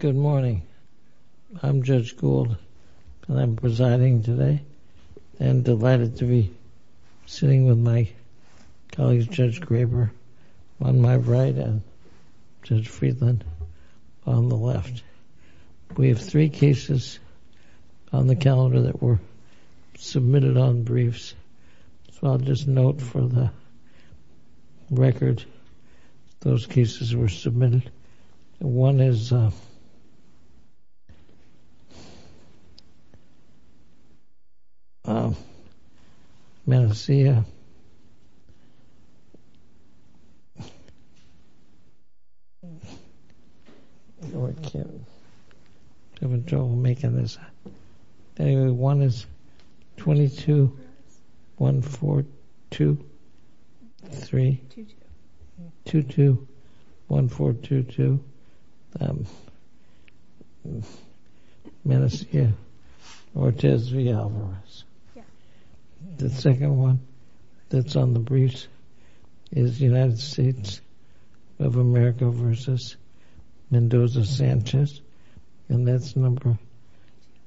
Good morning. I'm Judge Gould and I'm presiding today and delighted to be sitting with my colleagues Judge Graber on my right and Judge Friedland on the left. We have three cases on the calendar that were submitted on briefs, so I'll just note for the record those cases were submitted. One is 221422 Menesquia-Ortiz v. Alvarez. The second one that's on the briefs is United States of America v. Mendoza-Sanchez and that's number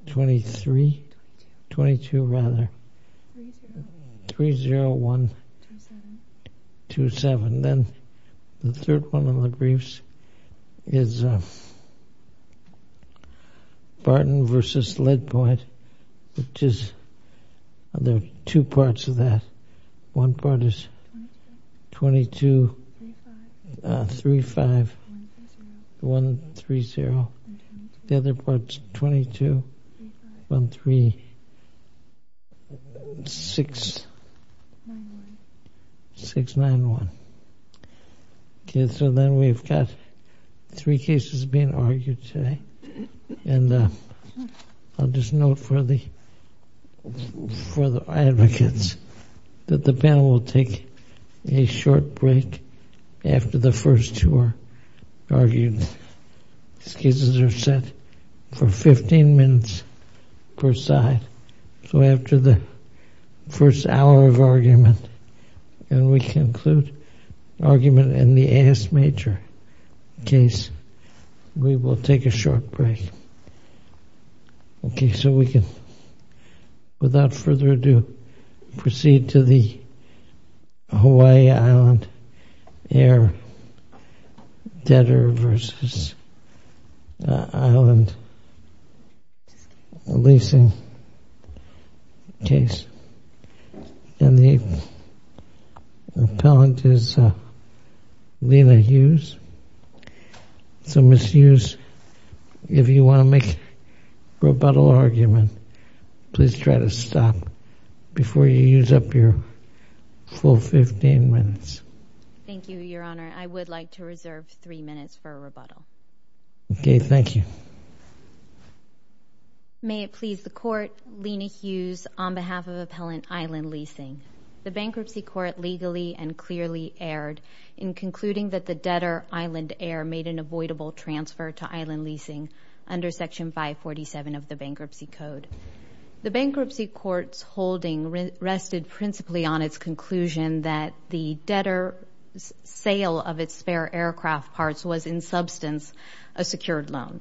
30127. Then the third one on the briefs is there are two parts of that. One part is 2235130. The other part is 2213691. Okay, so then we've got three cases being argued today and I'll just note for the for the advocates that the panel will take a short break after the first two are argued. Excuses are set for 15 minutes per side. So after the first hour of argument and we conclude argument in the AS Major case, we will take a short break. Okay, so we can, without further ado, proceed to the Hawaii Island Air Debtor v. Island Debtors leasing case and the appellant is Lena Hughes. So Ms. Hughes, if you want to make rebuttal argument, please try to stop before you use up your full 15 minutes. Thank you, Your Honor. I would like to reserve three minutes for a rebuttal. Okay, thank you. May it please the Court, Lena Hughes on behalf of Appellant Island Leasing. The bankruptcy court legally and clearly erred in concluding that the debtor Island Air made an avoidable transfer to Island Leasing under Section 547 of the Bankruptcy Code. The bankruptcy court's holding rested principally on its conclusion that the debtor's sale of its aircraft parts was in substance a secured loan.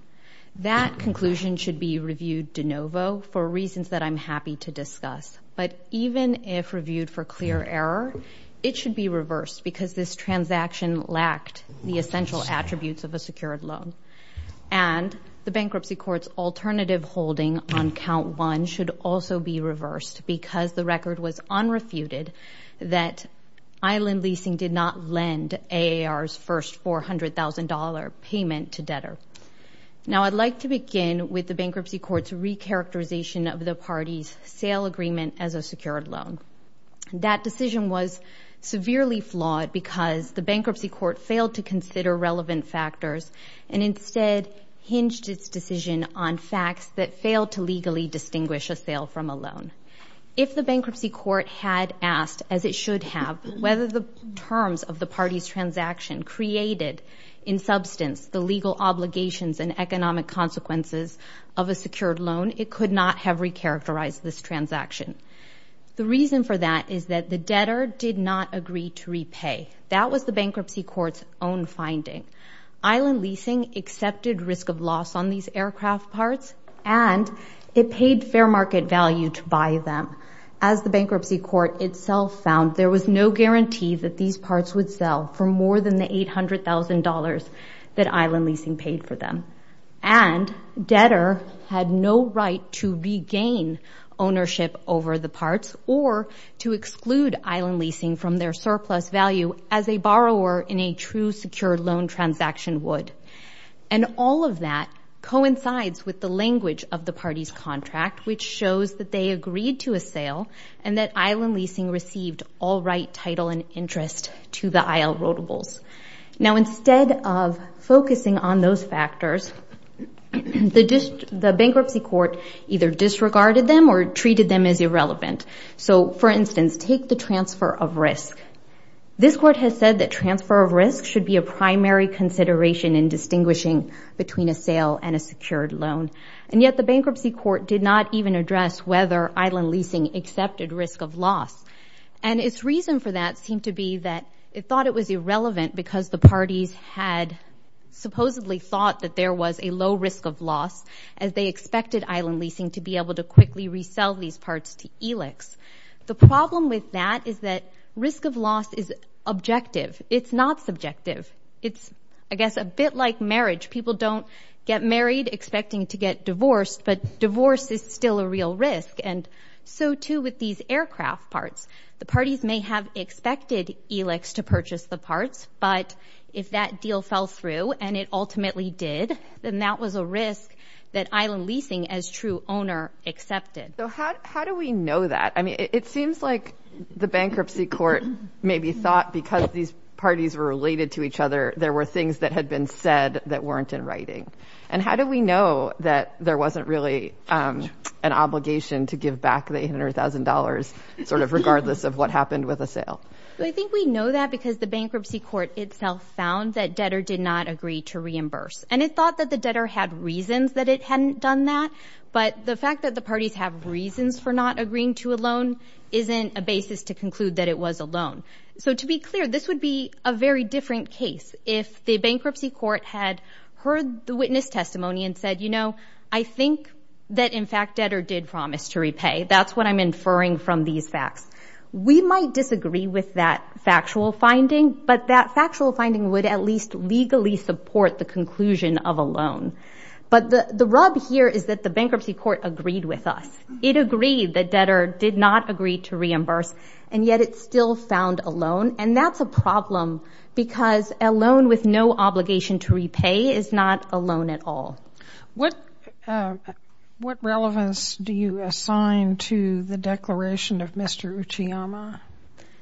That conclusion should be reviewed de novo for reasons that I'm happy to discuss. But even if reviewed for clear error, it should be reversed because this transaction lacked the essential attributes of a secured loan. And the bankruptcy court's alternative holding on count one should also be reversed because the record was unrefuted that Island Leasing did not lend AAR's first $400,000 payment to debtor. Now, I'd like to begin with the bankruptcy court's recharacterization of the party's sale agreement as a secured loan. That decision was severely flawed because the bankruptcy court failed to consider relevant factors and instead hinged its decision on facts that failed to have whether the terms of the party's transaction created in substance the legal obligations and economic consequences of a secured loan. It could not have recharacterized this transaction. The reason for that is that the debtor did not agree to repay. That was the bankruptcy court's own finding. Island Leasing accepted risk of loss on these aircraft parts and it paid fair market value to buy them. As the bankruptcy court itself found, there was no guarantee that these parts would sell for more than the $800,000 that Island Leasing paid for them. And debtor had no right to regain ownership over the parts or to exclude Island Leasing from their surplus value as a borrower in a true secured loan transaction would. And all of that coincides with the language of the contract which shows that they agreed to a sale and that Island Leasing received all right title and interest to the IL rotables. Now instead of focusing on those factors, the bankruptcy court either disregarded them or treated them as irrelevant. So for instance, take the transfer of risk. This court has said that transfer of risk should be a primary consideration in distinguishing between a sale and a secured loan. And yet the bankruptcy court did not even address whether Island Leasing accepted risk of loss. And its reason for that seemed to be that it thought it was irrelevant because the parties had supposedly thought that there was a low risk of loss as they expected Island Leasing to be able to quickly resell these parts to ELIX. The problem with that is that risk of loss is objective. It's not subjective. It's, I guess, a bit like marriage. People don't get married expecting to get divorced, but divorce is still a real risk. And so too with these aircraft parts, the parties may have expected ELIX to purchase the parts. But if that deal fell through and it ultimately did, then that was a risk that Island Leasing as true owner accepted. So how do we know that? I mean, it seems like the bankruptcy court maybe thought because these parties were related to each other, there were things that had been said that weren't in writing. And how do we know that there wasn't really an obligation to give back the $100,000 sort of regardless of what happened with a sale? I think we know that because the bankruptcy court itself found that debtor did not agree to reimburse. And it thought that the debtor had reasons that it hadn't done that. But the fact that the parties have reasons for not agreeing to a loan isn't a basis to conclude that it was a loan. So to be clear, this would be a very different case if the bankruptcy court had heard the witness testimony and said, you know, I think that in fact debtor did promise to repay. That's what I'm inferring from these facts. We might disagree with that factual finding, but that factual finding would at least legally support the conclusion of a loan. But the rub here is that the bankruptcy court agreed with us. It agreed that debtor did not agree to reimburse, and yet it still found a loan. And that's a problem because a loan with no obligation to repay is not a loan at all. What relevance do you assign to the declaration of Mr. Uchiyama?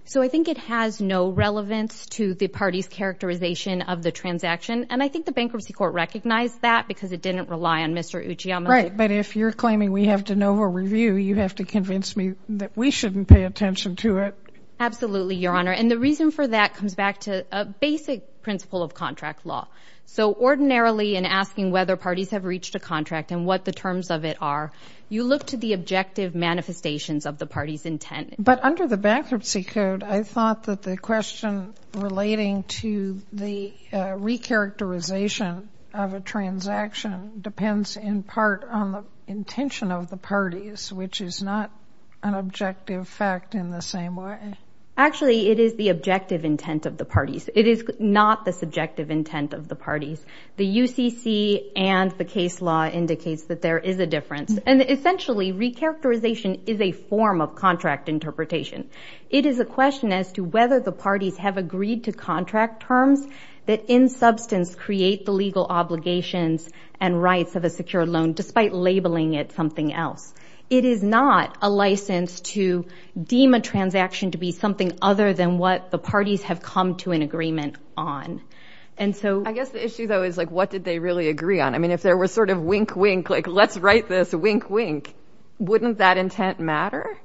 So I think it has no relevance to the party's characterization of the transaction. And I think the bankruptcy court recognized that because it didn't rely on Mr. Uchiyama. Right, but if you're claiming we have de novo review, you have to convince me that we shouldn't pay attention to it. Absolutely, Your Honor. And the reason for that comes back to a basic principle of contract law. So ordinarily in asking whether parties have reached a contract and what the terms of it are, you look to the objective manifestations of the party's intent. But under the bankruptcy code, I thought that the question relating to the re-characterization of a transaction depends in part on the intention of the parties, which is not an objective fact in the same way. Actually, it is the objective intent of the parties. It is not the subjective intent of the parties. The UCC and the case law indicates that there is a difference. And essentially, re-characterization is a form of contract interpretation. It is a question as to whether the parties have agreed to contract terms that in substance create the legal obligations and rights of a secure loan, despite labeling it something else. It is not a license to deem a transaction to be something other than what the parties have come to an agreement on. And so I guess the issue, though, is like, what did they really agree on? I mean, there was sort of wink, wink, like, let's write this, wink, wink. Wouldn't that intent matter?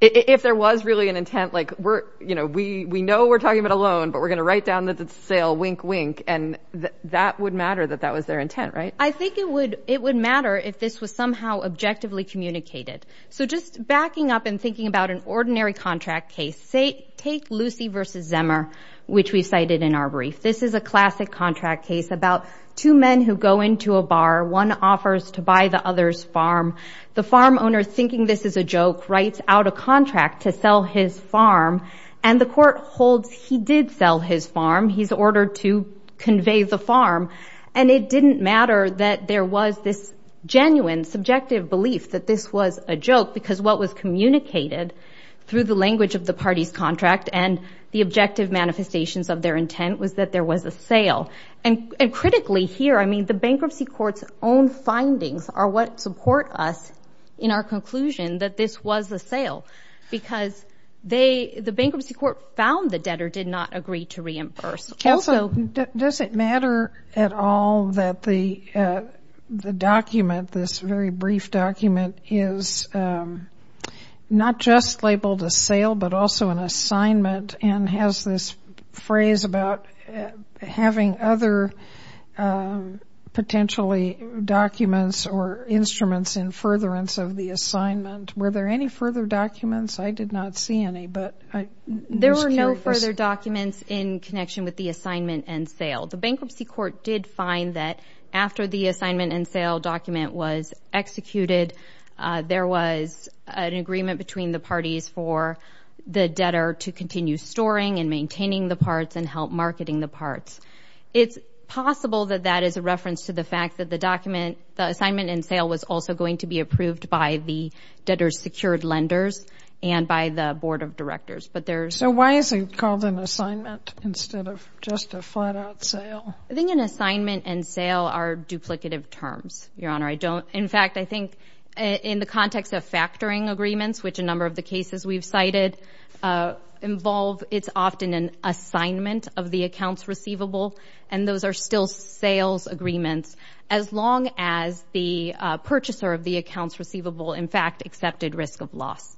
If there was really an intent, like, we're, you know, we know we're talking about a loan, but we're going to write down that it's a sale, wink, wink. And that would matter, that that was their intent, right? I think it would matter if this was somehow objectively communicated. So just backing up and thinking about an ordinary contract case, say, take Lucy versus Zemmer, which we cited in our brief. This is a classic contract case about two men who go into a bar. One offers to buy the other's farm. The farm owner, thinking this is a joke, writes out a contract to sell his farm. And the court holds he did sell his farm. He's ordered to convey the farm. And it didn't matter that there was this genuine subjective belief that this was a joke, because what was communicated through the language of the party's contract and the objective manifestations of their intent was that there was a sale. And critically here, I mean, the bankruptcy court's own findings are what support us in our conclusion that this was a sale, because they, the bankruptcy court found the debtor did not agree to reimburse. Also, does it matter at all that the document, this very brief document is not just labeled a sale, but also an assignment and has this phrase about having other potentially documents or instruments in furtherance of the assignment. Were there any further documents? I did not see any, but I was curious. There were no further documents in connection with the assignment and sale. The bankruptcy court did find that after the assignment and sale document was executed, there was an agreement between the parties for the debtor to continue storing and maintaining the parts and help marketing the parts. It's possible that that is a reference to the fact that the document, the assignment and sale was also going to be approved by the debtor's secured lenders and by the board of directors, but there's... So why is it called an assignment instead of just a flat-out sale? I think an assignment and sale are duplicative terms, Your Honor. I don't, in fact, I think in the context of factoring agreements, which a number of the cases we've cited involve, it's often an assignment of the accounts receivable, and those are still sales agreements as long as the purchaser of the accounts receivable, in fact, accepted risk of loss.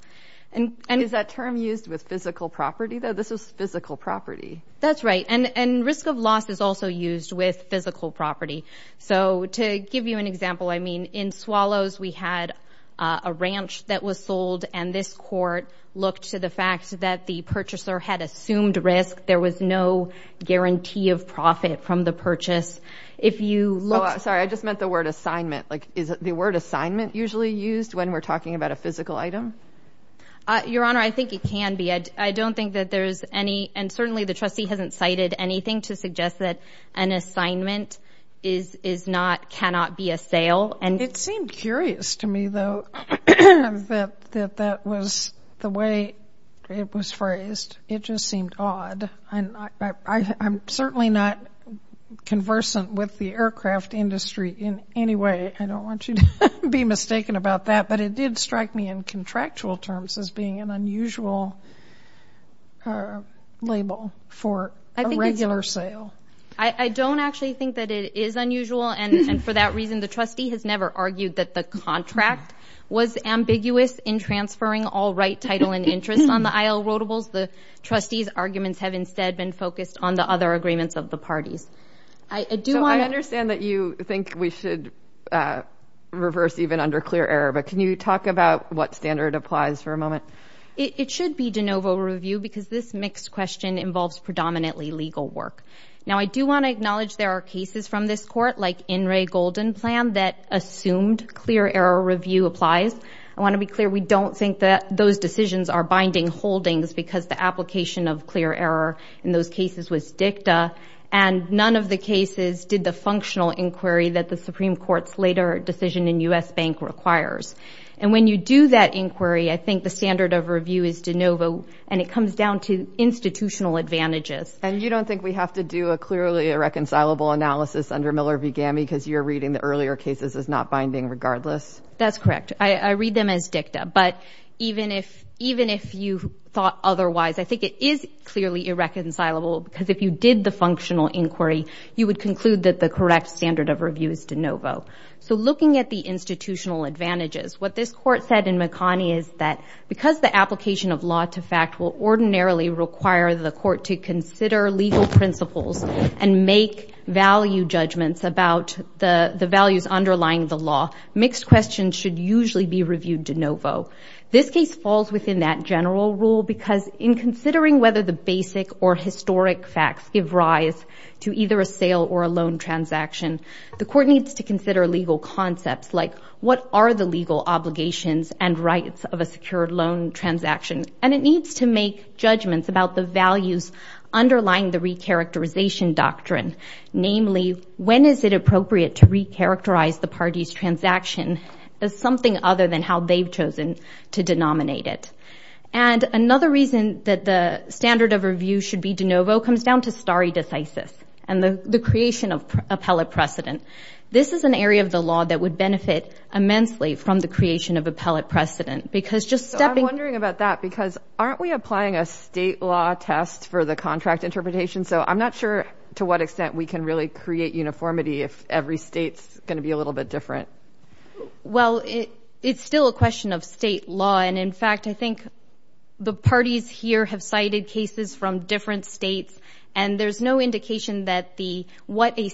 And is that term used with physical property though? This is physical property. That's right. And risk of loss is also used with physical property. So to give you an example, I mean, in Swallows, we had a ranch that was sold, and this court looked to the fact that the purchaser had assumed risk. There was no guarantee of profit from the purchase. If you look... Sorry, I just meant the word assignment. Like, is the word assignment usually used when we're talking about a physical item? Your Honor, I think it can be. I don't think that there's any, and certainly the trustee hasn't cited anything to suggest that an assignment is not, cannot be a sale. It seemed curious to me, though, that that was the way it was phrased. It just seemed odd, and I'm certainly not conversant with the aircraft industry in any way. I don't want you to be mistaken about that, but it did strike me in contractual terms as being an unusual label for a regular sale. I don't actually think that it is unusual, and for that reason, the trustee has never argued that the contract was ambiguous in transferring all right, title, and interest on the IL rotables. The trustee's arguments have instead been focused on the other agreements of the parties. I do want to... So I understand that you think we should reverse even under clear error, but can you talk about what standard applies for a moment? It should be de novo review because this mixed question involves predominantly legal work. Now, I do want to acknowledge there are cases from this court like In re Golden plan that assumed clear error review applies. I want to be clear, we don't think that those decisions are binding holdings because the application of clear error in those cases was dicta, and none of the cases did the functional inquiry that the Supreme Court's later decision in U.S. Bank requires. And when you do that inquiry, I think the standard of review is de novo, and it comes down to institutional advantages. And you don't think we have to do a clearly irreconcilable analysis under Miller v. Gammy because you're reading the earlier cases as not binding regardless? That's correct. I read them as dicta, but even if you thought otherwise, I think it is clearly irreconcilable because if you did the functional inquiry, you would conclude that the correct standard of review is de novo. So looking at the institutional advantages, what this court said in require the court to consider legal principles and make value judgments about the values underlying the law. Mixed questions should usually be reviewed de novo. This case falls within that general rule because in considering whether the basic or historic facts give rise to either a sale or a loan transaction, the court needs to consider legal concepts like what are the legal obligations and rights of a secured loan transaction. And it needs to make judgments about the values underlying the recharacterization doctrine. Namely, when is it appropriate to recharacterize the party's transaction as something other than how they've chosen to denominate it? And another reason that the standard of review should be de novo comes down to stare decisis, and the creation of appellate precedent. This is an area of the law that would benefit immensely from the creation of appellate precedent because just stepping... I'm wondering about that because aren't we applying a state law test for the contract interpretation? So I'm not sure to what extent we can really create uniformity if every state's going to be a little bit different. Well, it's still a question of state law. And in fact, I think the parties here have cited cases from different states, and there's no indication that what a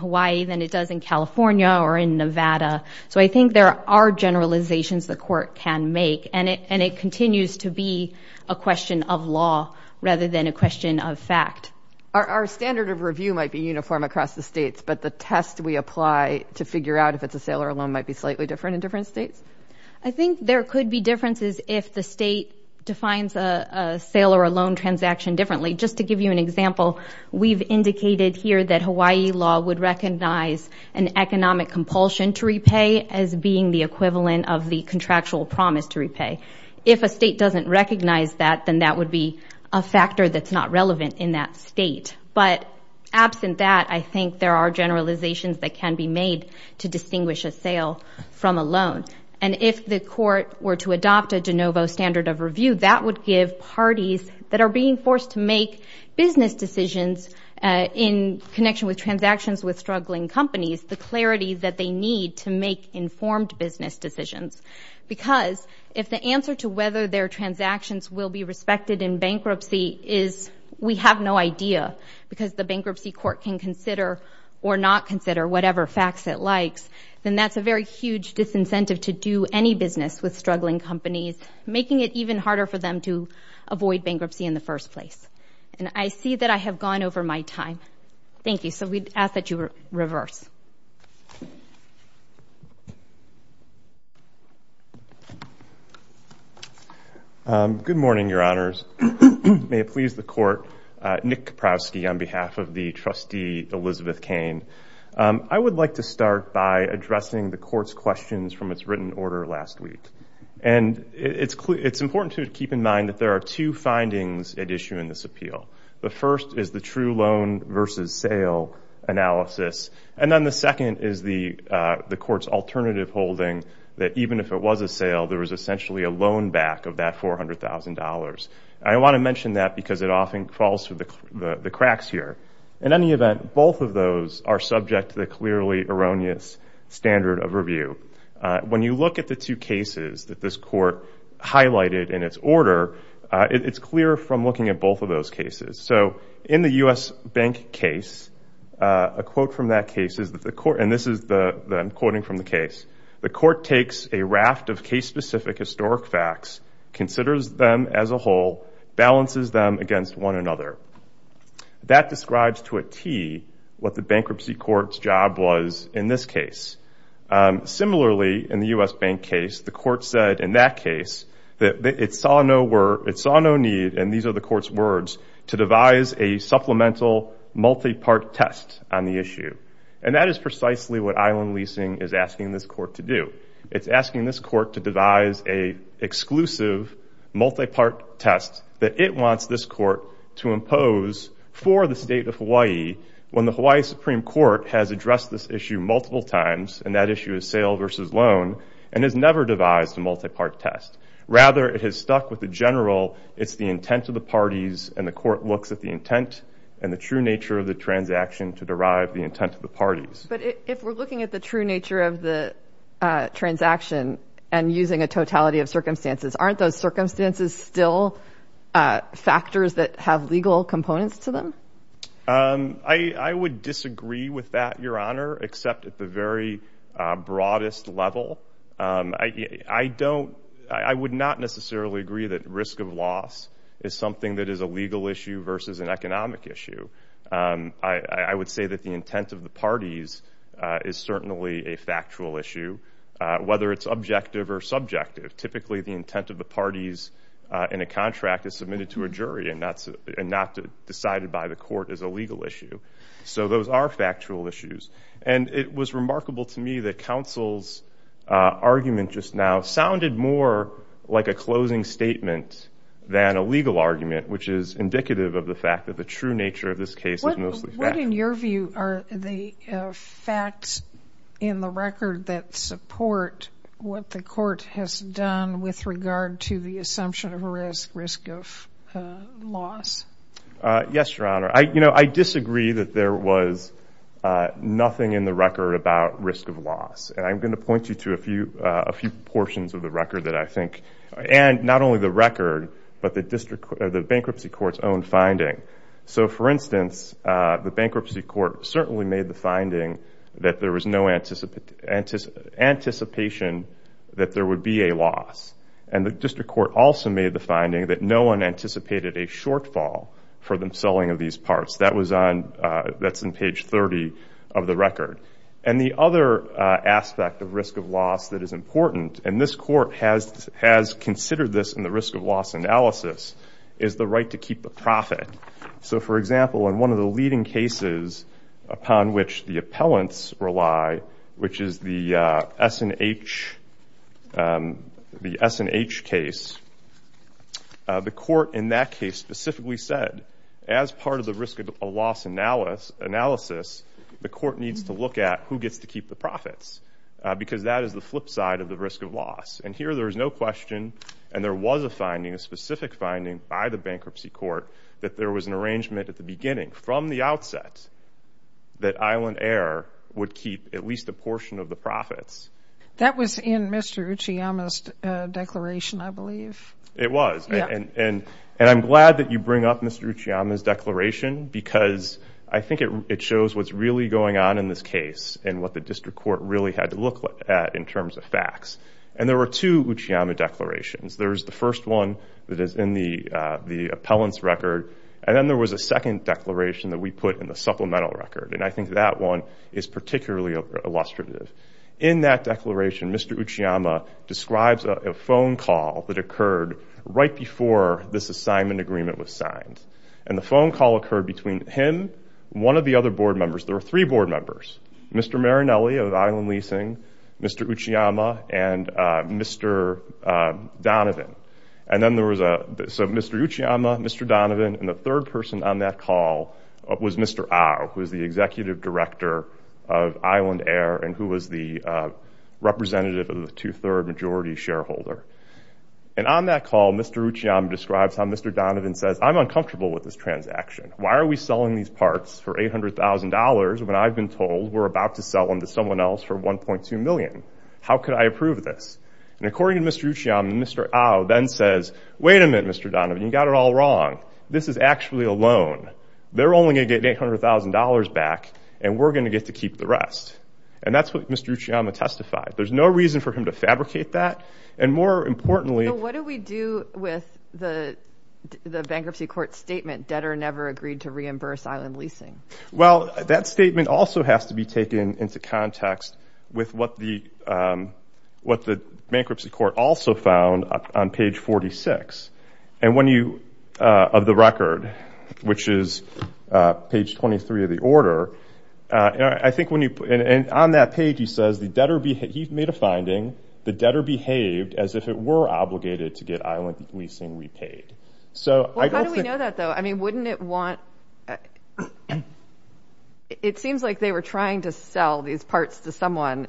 Hawaii than it does in California or in Nevada. So I think there are generalizations the court can make, and it continues to be a question of law rather than a question of fact. Our standard of review might be uniform across the states, but the test we apply to figure out if it's a sale or a loan might be slightly different in different states? I think there could be differences if the state defines a sale or a loan transaction differently. Just to give you an example, we've indicated here that Hawaii law would recognize an economic compulsion to repay as being the equivalent of the contractual promise to repay. If a state doesn't recognize that, then that would be a factor that's not relevant in that state. But absent that, I think there are generalizations that can be made to distinguish a sale from a loan. And if the court were to adopt a de novo standard of review, that would give parties that are being forced to make business decisions in connection with transactions with struggling companies the clarity that they need to make informed business decisions. Because if the answer to whether their transactions will be respected in bankruptcy is, we have no idea, because the bankruptcy court can consider or not consider whatever facts it likes, then that's a very huge disincentive to do any business with struggling companies, making it even harder for them to avoid bankruptcy in the first place. And I see that I have gone over my time. Thank you. So we'd ask that you reverse. Good morning, your honors. May it please the court. Nick Kaprowski on behalf of the trustee Elizabeth Kane. I would like to start by addressing the court's questions from its written order last week. And it's important to keep in mind that there are two findings at issue in this appeal. The first is the true loan versus sale analysis. And then the second is the court's alternative holding that even if it was a sale, there was essentially a loan back of that $400,000. I want to mention that because it often falls through the cracks here. In any event, both of those are subject to the clearly erroneous standard of review. When you look at the two cases that this court highlighted in its order, it's clear from looking at both of those cases. So in the US Bank case, a quote from that case is that the court, and this is the that I'm quoting from the case, the court takes a raft of case-specific historic facts, considers them as a whole, balances them against one another. That describes to a T what the bankruptcy court's was in this case. Similarly, in the US Bank case, the court said in that case that it saw no need, and these are the court's words, to devise a supplemental multi-part test on the issue. And that is precisely what Island Leasing is asking this court to do. It's asking this court to devise a exclusive multi-part test that it wants this court to impose for the state of Hawaii when the Hawaii Supreme Court has addressed this issue multiple times, and that issue is sale versus loan, and has never devised a multi-part test. Rather, it has stuck with the general, it's the intent of the parties, and the court looks at the intent and the true nature of the transaction to derive the intent of the parties. But if we're looking at the true nature of the transaction and using a totality of circumstances, aren't those circumstances still factors that have legal components to them? I would disagree with that, Your Honor, except at the very broadest level. I would not necessarily agree that risk of loss is something that is a legal issue versus an economic issue. I would say that the intent of the parties is certainly a factual issue, whether it's objective or subjective. Typically, the intent of the parties in a decided by the court is a legal issue, so those are factual issues. And it was remarkable to me that counsel's argument just now sounded more like a closing statement than a legal argument, which is indicative of the fact that the true nature of this case is mostly fact. What, in your view, are the facts in the record that support what the court has done with regard to the assumption of risk of loss? Yes, Your Honor. I disagree that there was nothing in the record about risk of loss. And I'm going to point you to a few portions of the record that I think, and not only the record, but the bankruptcy court's own finding. So for instance, the bankruptcy court certainly made the finding that there was no anticipation that there would be a loss. And the district court also made the finding that no one anticipated a shortfall for the selling of these parts. That's on page 30 of the record. And the other aspect of risk of loss that is important, and this court has considered this in the risk of loss analysis, is the right to keep the profit. So for example, in one of the leading cases upon which the appellants rely, which is the S&H case, the court in that case specifically said, as part of the risk of loss analysis, the court needs to look at who gets to keep the profits. Because that is the flip side of the risk of loss. And here there is no question, and there was a finding, a specific finding by the bankruptcy court, that there was an arrangement at the beginning, from the outset, that Island Air would keep at least a portion of the profits. That was in Mr. Uchiyama's declaration, I believe. It was. And I'm glad that you bring up Mr. Uchiyama's declaration, because I think it shows what's really going on in this case, and what the district court really had to look at in terms of facts. And there were two Uchiyama declarations. There's the first one that is in the appellant's record. And then there was a second declaration that we put in the supplemental record. And I think that one is particularly illustrative. In that declaration, Mr. Uchiyama describes a phone call that occurred right before this assignment agreement was signed. And the phone call occurred between him, one of the other board members. There were three board members. Mr. Marinelli of Island Leasing, Mr. Uchiyama, and Mr. Donovan. And then there was Mr. Uchiyama, Mr. Donovan, and the third person on that call was Mr. Au, who was the executive director of Island Air, and who was the representative of the two-third majority shareholder. And on that call, Mr. Uchiyama describes how Mr. Donovan says, I'm uncomfortable with this transaction. Why are we selling these parts for $800,000 when I've been told we're about to sell them to someone else for $1.2 million? How could I approve this? And according to Mr. Uchiyama, Mr. Au then says, wait a minute, Mr. Donovan, you got it all wrong. This is actually a loan. They're only going to get $800,000 back, and we're going to get to keep the rest. And that's what Mr. Uchiyama testified. There's no reason for him to fabricate that. And more importantly... So what do we do with the bankruptcy court statement, debtor never agreed to reimburse Island Leasing? Well, that statement also has to be taken into context with what the bankruptcy court also found on page 46 of the record, which is page 23 of the order. And on that page, he says, he made a finding, the debtor behaved as if it were obligated to get Island Leasing repaid. How do we know that though? I mean, wouldn't it want... It seems like they were trying to sell these parts to someone.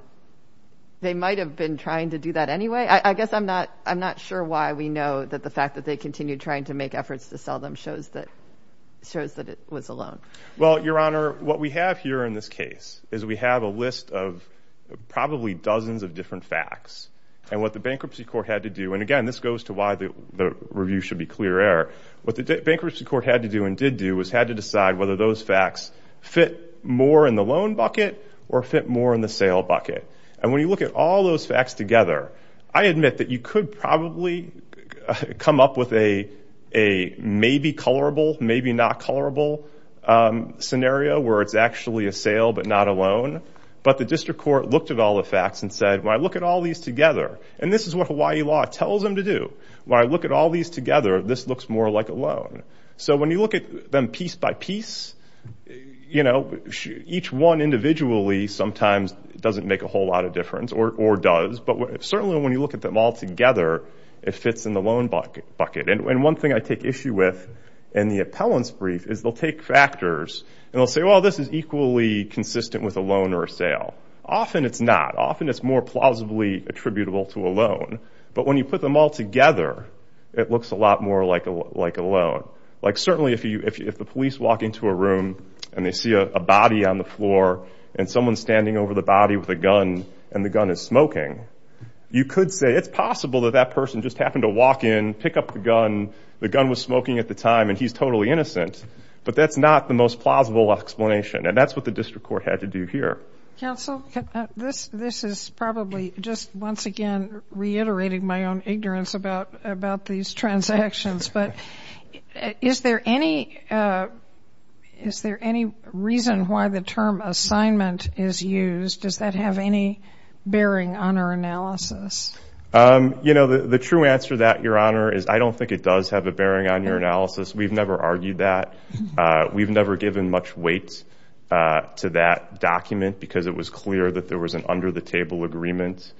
They might've been trying to do that anyway. I guess I'm not sure why we know that the fact that they continued trying to make efforts to sell them shows that it was a loan. Well, Your Honor, what we have here in this case is we have a list of probably dozens of different facts and what the bankruptcy court had to do. And again, this goes to why the review should be clear error. What the bankruptcy court had to do and did do was had to decide whether those facts fit more in the loan bucket or fit more in the sale bucket. And when you look at all those facts together, I admit that you could probably come up with a maybe colorable, maybe not colorable scenario where it's actually a sale but not a loan. But the district court looked at all the facts and said, when I look at all these together, and this is what Hawaii law tells them to do, when I look at all these together, this looks more like a loan. So when you look at them piece by piece, each one individually sometimes doesn't make a whole lot of difference or does. But certainly when you look at them all together, it fits in the loan bucket. And one thing I take issue with in the appellant's brief is they'll take factors and they'll say, well, this is equally consistent with a loan or a sale. Often it's not. Often it's more plausibly attributable to a loan. But when you put them all together, it looks a lot more like a loan. Like certainly if the police walk into a room and they see a body on the floor and someone's standing over the body with a gun and the gun is smoking, you could say it's possible that that person just happened to walk in, pick up the gun, the gun was smoking at the time and he's totally innocent. But that's not the most plausible explanation. And that's what the district court had to do here. Counsel, this is probably just once again reiterating my own ignorance about these transactions, but is there any reason why the term assignment is used? Does that have any bearing on our analysis? You know, the true answer to that, Your Honor, is I don't think it does have a bearing on your analysis. We've never argued that. We've never given much weight to that document because it was clear that there was an under the table agreement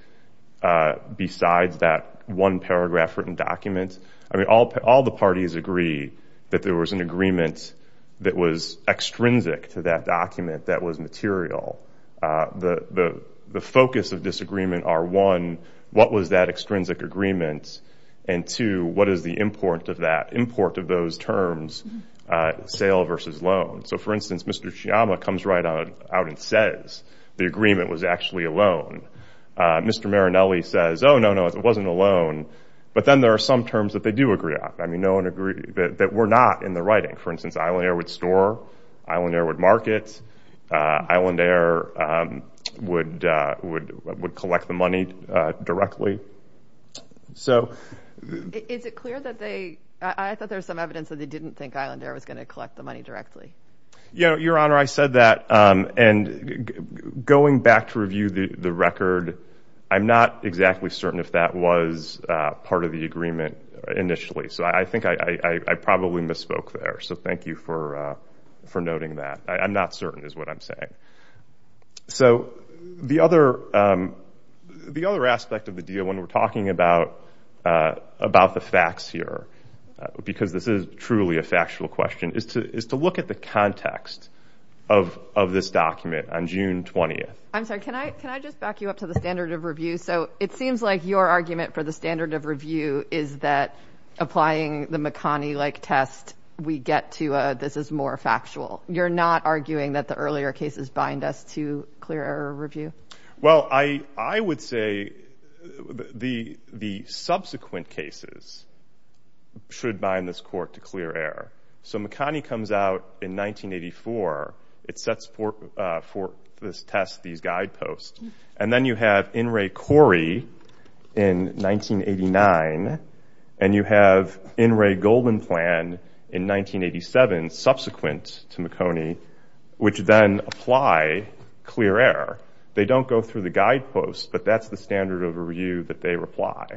besides that one paragraph written document. I mean, all the parties agree that there was an agreement that was extrinsic to that document that was material. The focus of disagreement are one, what was that extrinsic agreement? And two, what is the import of that? Import of those terms, sale versus loan. So for instance, Mr. Sciamma comes right out and says the agreement was actually a loan. Mr. Marinelli says, oh no, no, it wasn't a loan. But then there are some terms that they do agree on. I mean, no one agreed that were not in the writing. For instance, Island Air would store, Island Air would market, Island Air would collect the money directly. So is it clear that they, I thought there was some evidence that they didn't think Island Air was going to collect the money directly? Yeah, Your Honor, I said that. And going back to review the record, I'm not exactly certain if that was part of the agreement initially. So I think I probably misspoke there. So thank you for noting that. I'm not certain is what I'm saying. So the other aspect of the deal when we're talking about the facts here, because this is truly a factual question, is to look at the context of this document on June 20th. I'm sorry, can I just back you up to the standard of review? So it seems like your argument for the standard of review is that applying the McConnie-like test, we get to this is more factual. You're not arguing that the earlier cases bind us to clear error review? Well, I would say the subsequent cases should bind this court to clear error. So McConnie comes out in 1984. It sets forth for this test these guideposts. And then you have In re Corrie in 1989. And you have In re Goldenplan in 1987, subsequent to McConnie, which then apply clear error. They don't go through the guideposts, but that's the standard of review that they apply.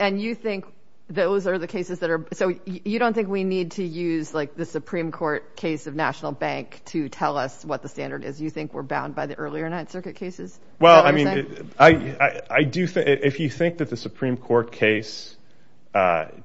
And you think those are the cases that are... So you don't think we need to use the Supreme Court case of National Bank to tell us what the standard is? You think we're bound by the earlier Ninth Circuit cases? Well, I mean, if you think that the Supreme Court case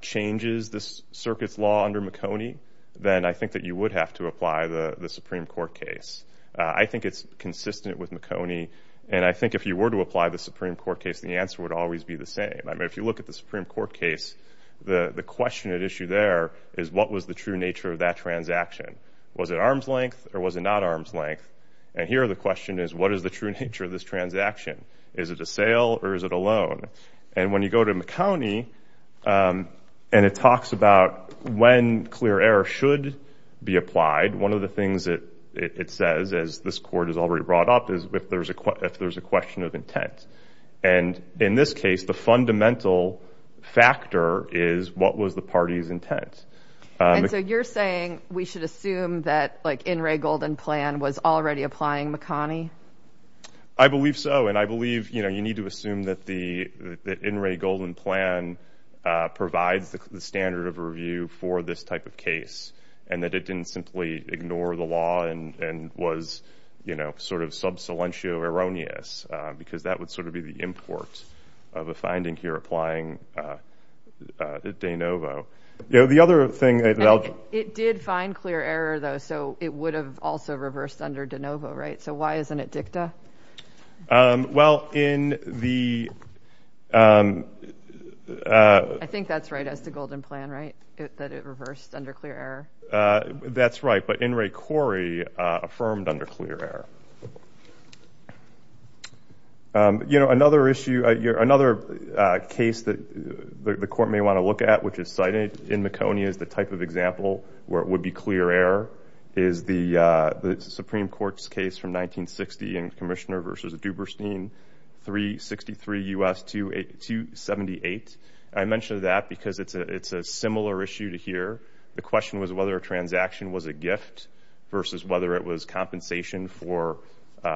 changes the circuit's law under McConnie, then I think that you would have to apply the Supreme Court case. I think it's consistent with McConnie. And I think if you were to apply the Supreme Court case, the answer would always be the same. I mean, if you look at the Supreme Court case, the question at issue there is what was the true nature of that transaction? Was it arm's length or was it not arm's length? And here the question is, what is the true nature of this And it talks about when clear error should be applied. One of the things that it says, as this court has already brought up, is if there's a question of intent. And in this case, the fundamental factor is what was the party's intent. And so you're saying we should assume that In re Golden Plan was already applying McConnie? I believe so. And I believe you need assume that the In re Golden Plan provides the standard of review for this type of case, and that it didn't simply ignore the law and was, you know, sort of sub silentio erroneous, because that would sort of be the import of a finding here applying de novo. You know, the other thing, it did find clear error, though, so it would have also reversed under de novo, right? So why isn't it dicta? Well, in the I think that's right as to Golden Plan, right? That it reversed under clear error. That's right. But In re Corey affirmed under clear error. You know, another issue, another case that the court may want to look at, which is cited in McConnie is the type of example where it would be clear error is the Supreme Court's case from 1960 and Commissioner versus Duberstein 363 U.S. 278. I mentioned that because it's a similar issue to here. The question was whether a transaction was a gift versus whether it was compensation for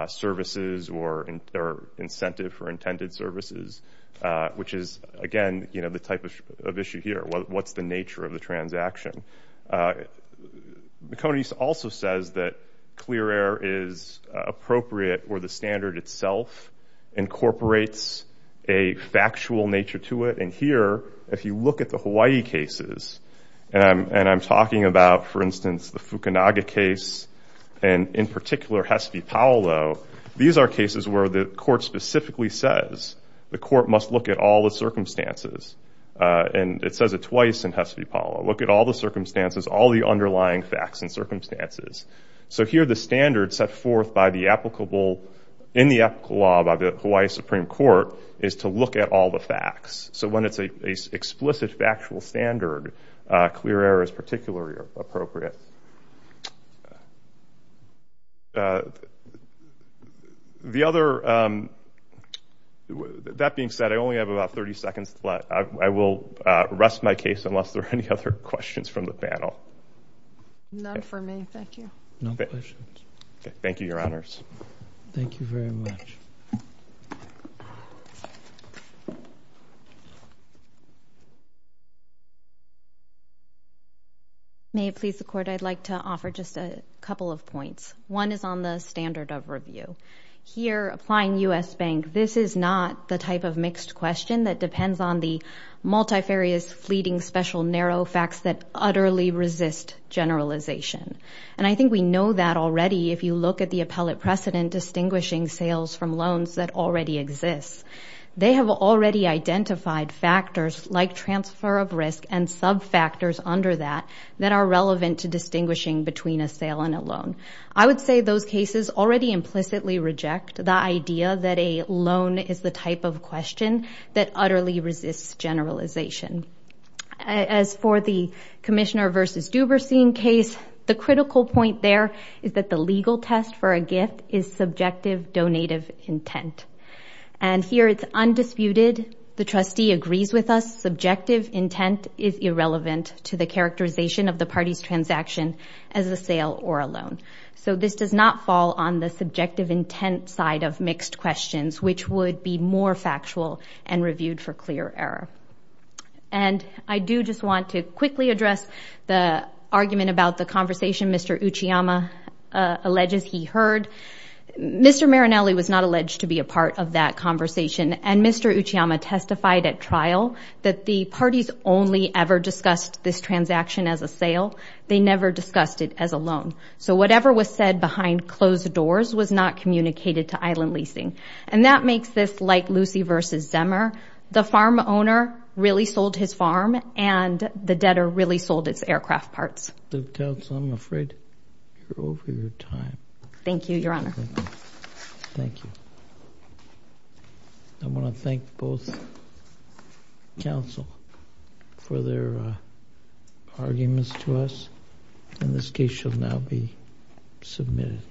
services or incentive for intended services, which is again, you know, the type of issue here. What's the nature of the transaction? McConnie's also says that clear error is appropriate where the standard itself incorporates a factual nature to it. And here, if you look at the Hawaii cases and I'm talking about, for instance, the Fukunaga case, and in particular, Hespi Paolo, these are cases where the court specifically says the court must look at all the circumstances. And it says it twice in Hespi Paolo, look at all the circumstances, all the underlying facts and circumstances. So here, the standard set forth by the applicable in the law by the Hawaii Supreme Court is to look at all the facts. So when it's a explicit factual standard, clear error is appropriate. That being said, I only have about 30 seconds left. I will rest my case unless there are any other questions from the panel. None for me. Thank you. No questions. Thank you, Your Honors. Thank you very much. May it please the Court, I'd like to offer just a couple of points. One is on the standard of review. Here, applying U.S. Bank, this is not the type of mixed question that depends on the multifarious, fleeting, special, narrow facts that utterly resist generalization. And I think we know that already if you look at the appellate precedent distinguishing sales from loans that already exists. They have already identified factors like transfer of risk and sub-factors under that that are relevant to distinguishing between a sale and a loan. I would say those cases already implicitly reject the idea that a loan is the type of question that utterly resists generalization. As for the Commissioner v. Duberstein case, the critical point there is that the legal test for intent. And here it's undisputed. The trustee agrees with us. Subjective intent is irrelevant to the characterization of the party's transaction as a sale or a loan. So this does not fall on the subjective intent side of mixed questions, which would be more factual and reviewed for clear error. And I do just want to quickly address the argument about the conversation Mr. Uchiyama alleges he heard. Mr. Marinelli was not alleged to be a part of that conversation, and Mr. Uchiyama testified at trial that the parties only ever discussed this transaction as a sale. They never discussed it as a loan. So whatever was said behind closed doors was not communicated to Island Leasing. And that makes this like Lucy v. Zemmer. The farm owner really sold his farm, and the debtor really sold its aircraft parts. Thank you, Your Honor. Thank you. I want to thank both counsel for their arguments to us. And this case shall now be submitted.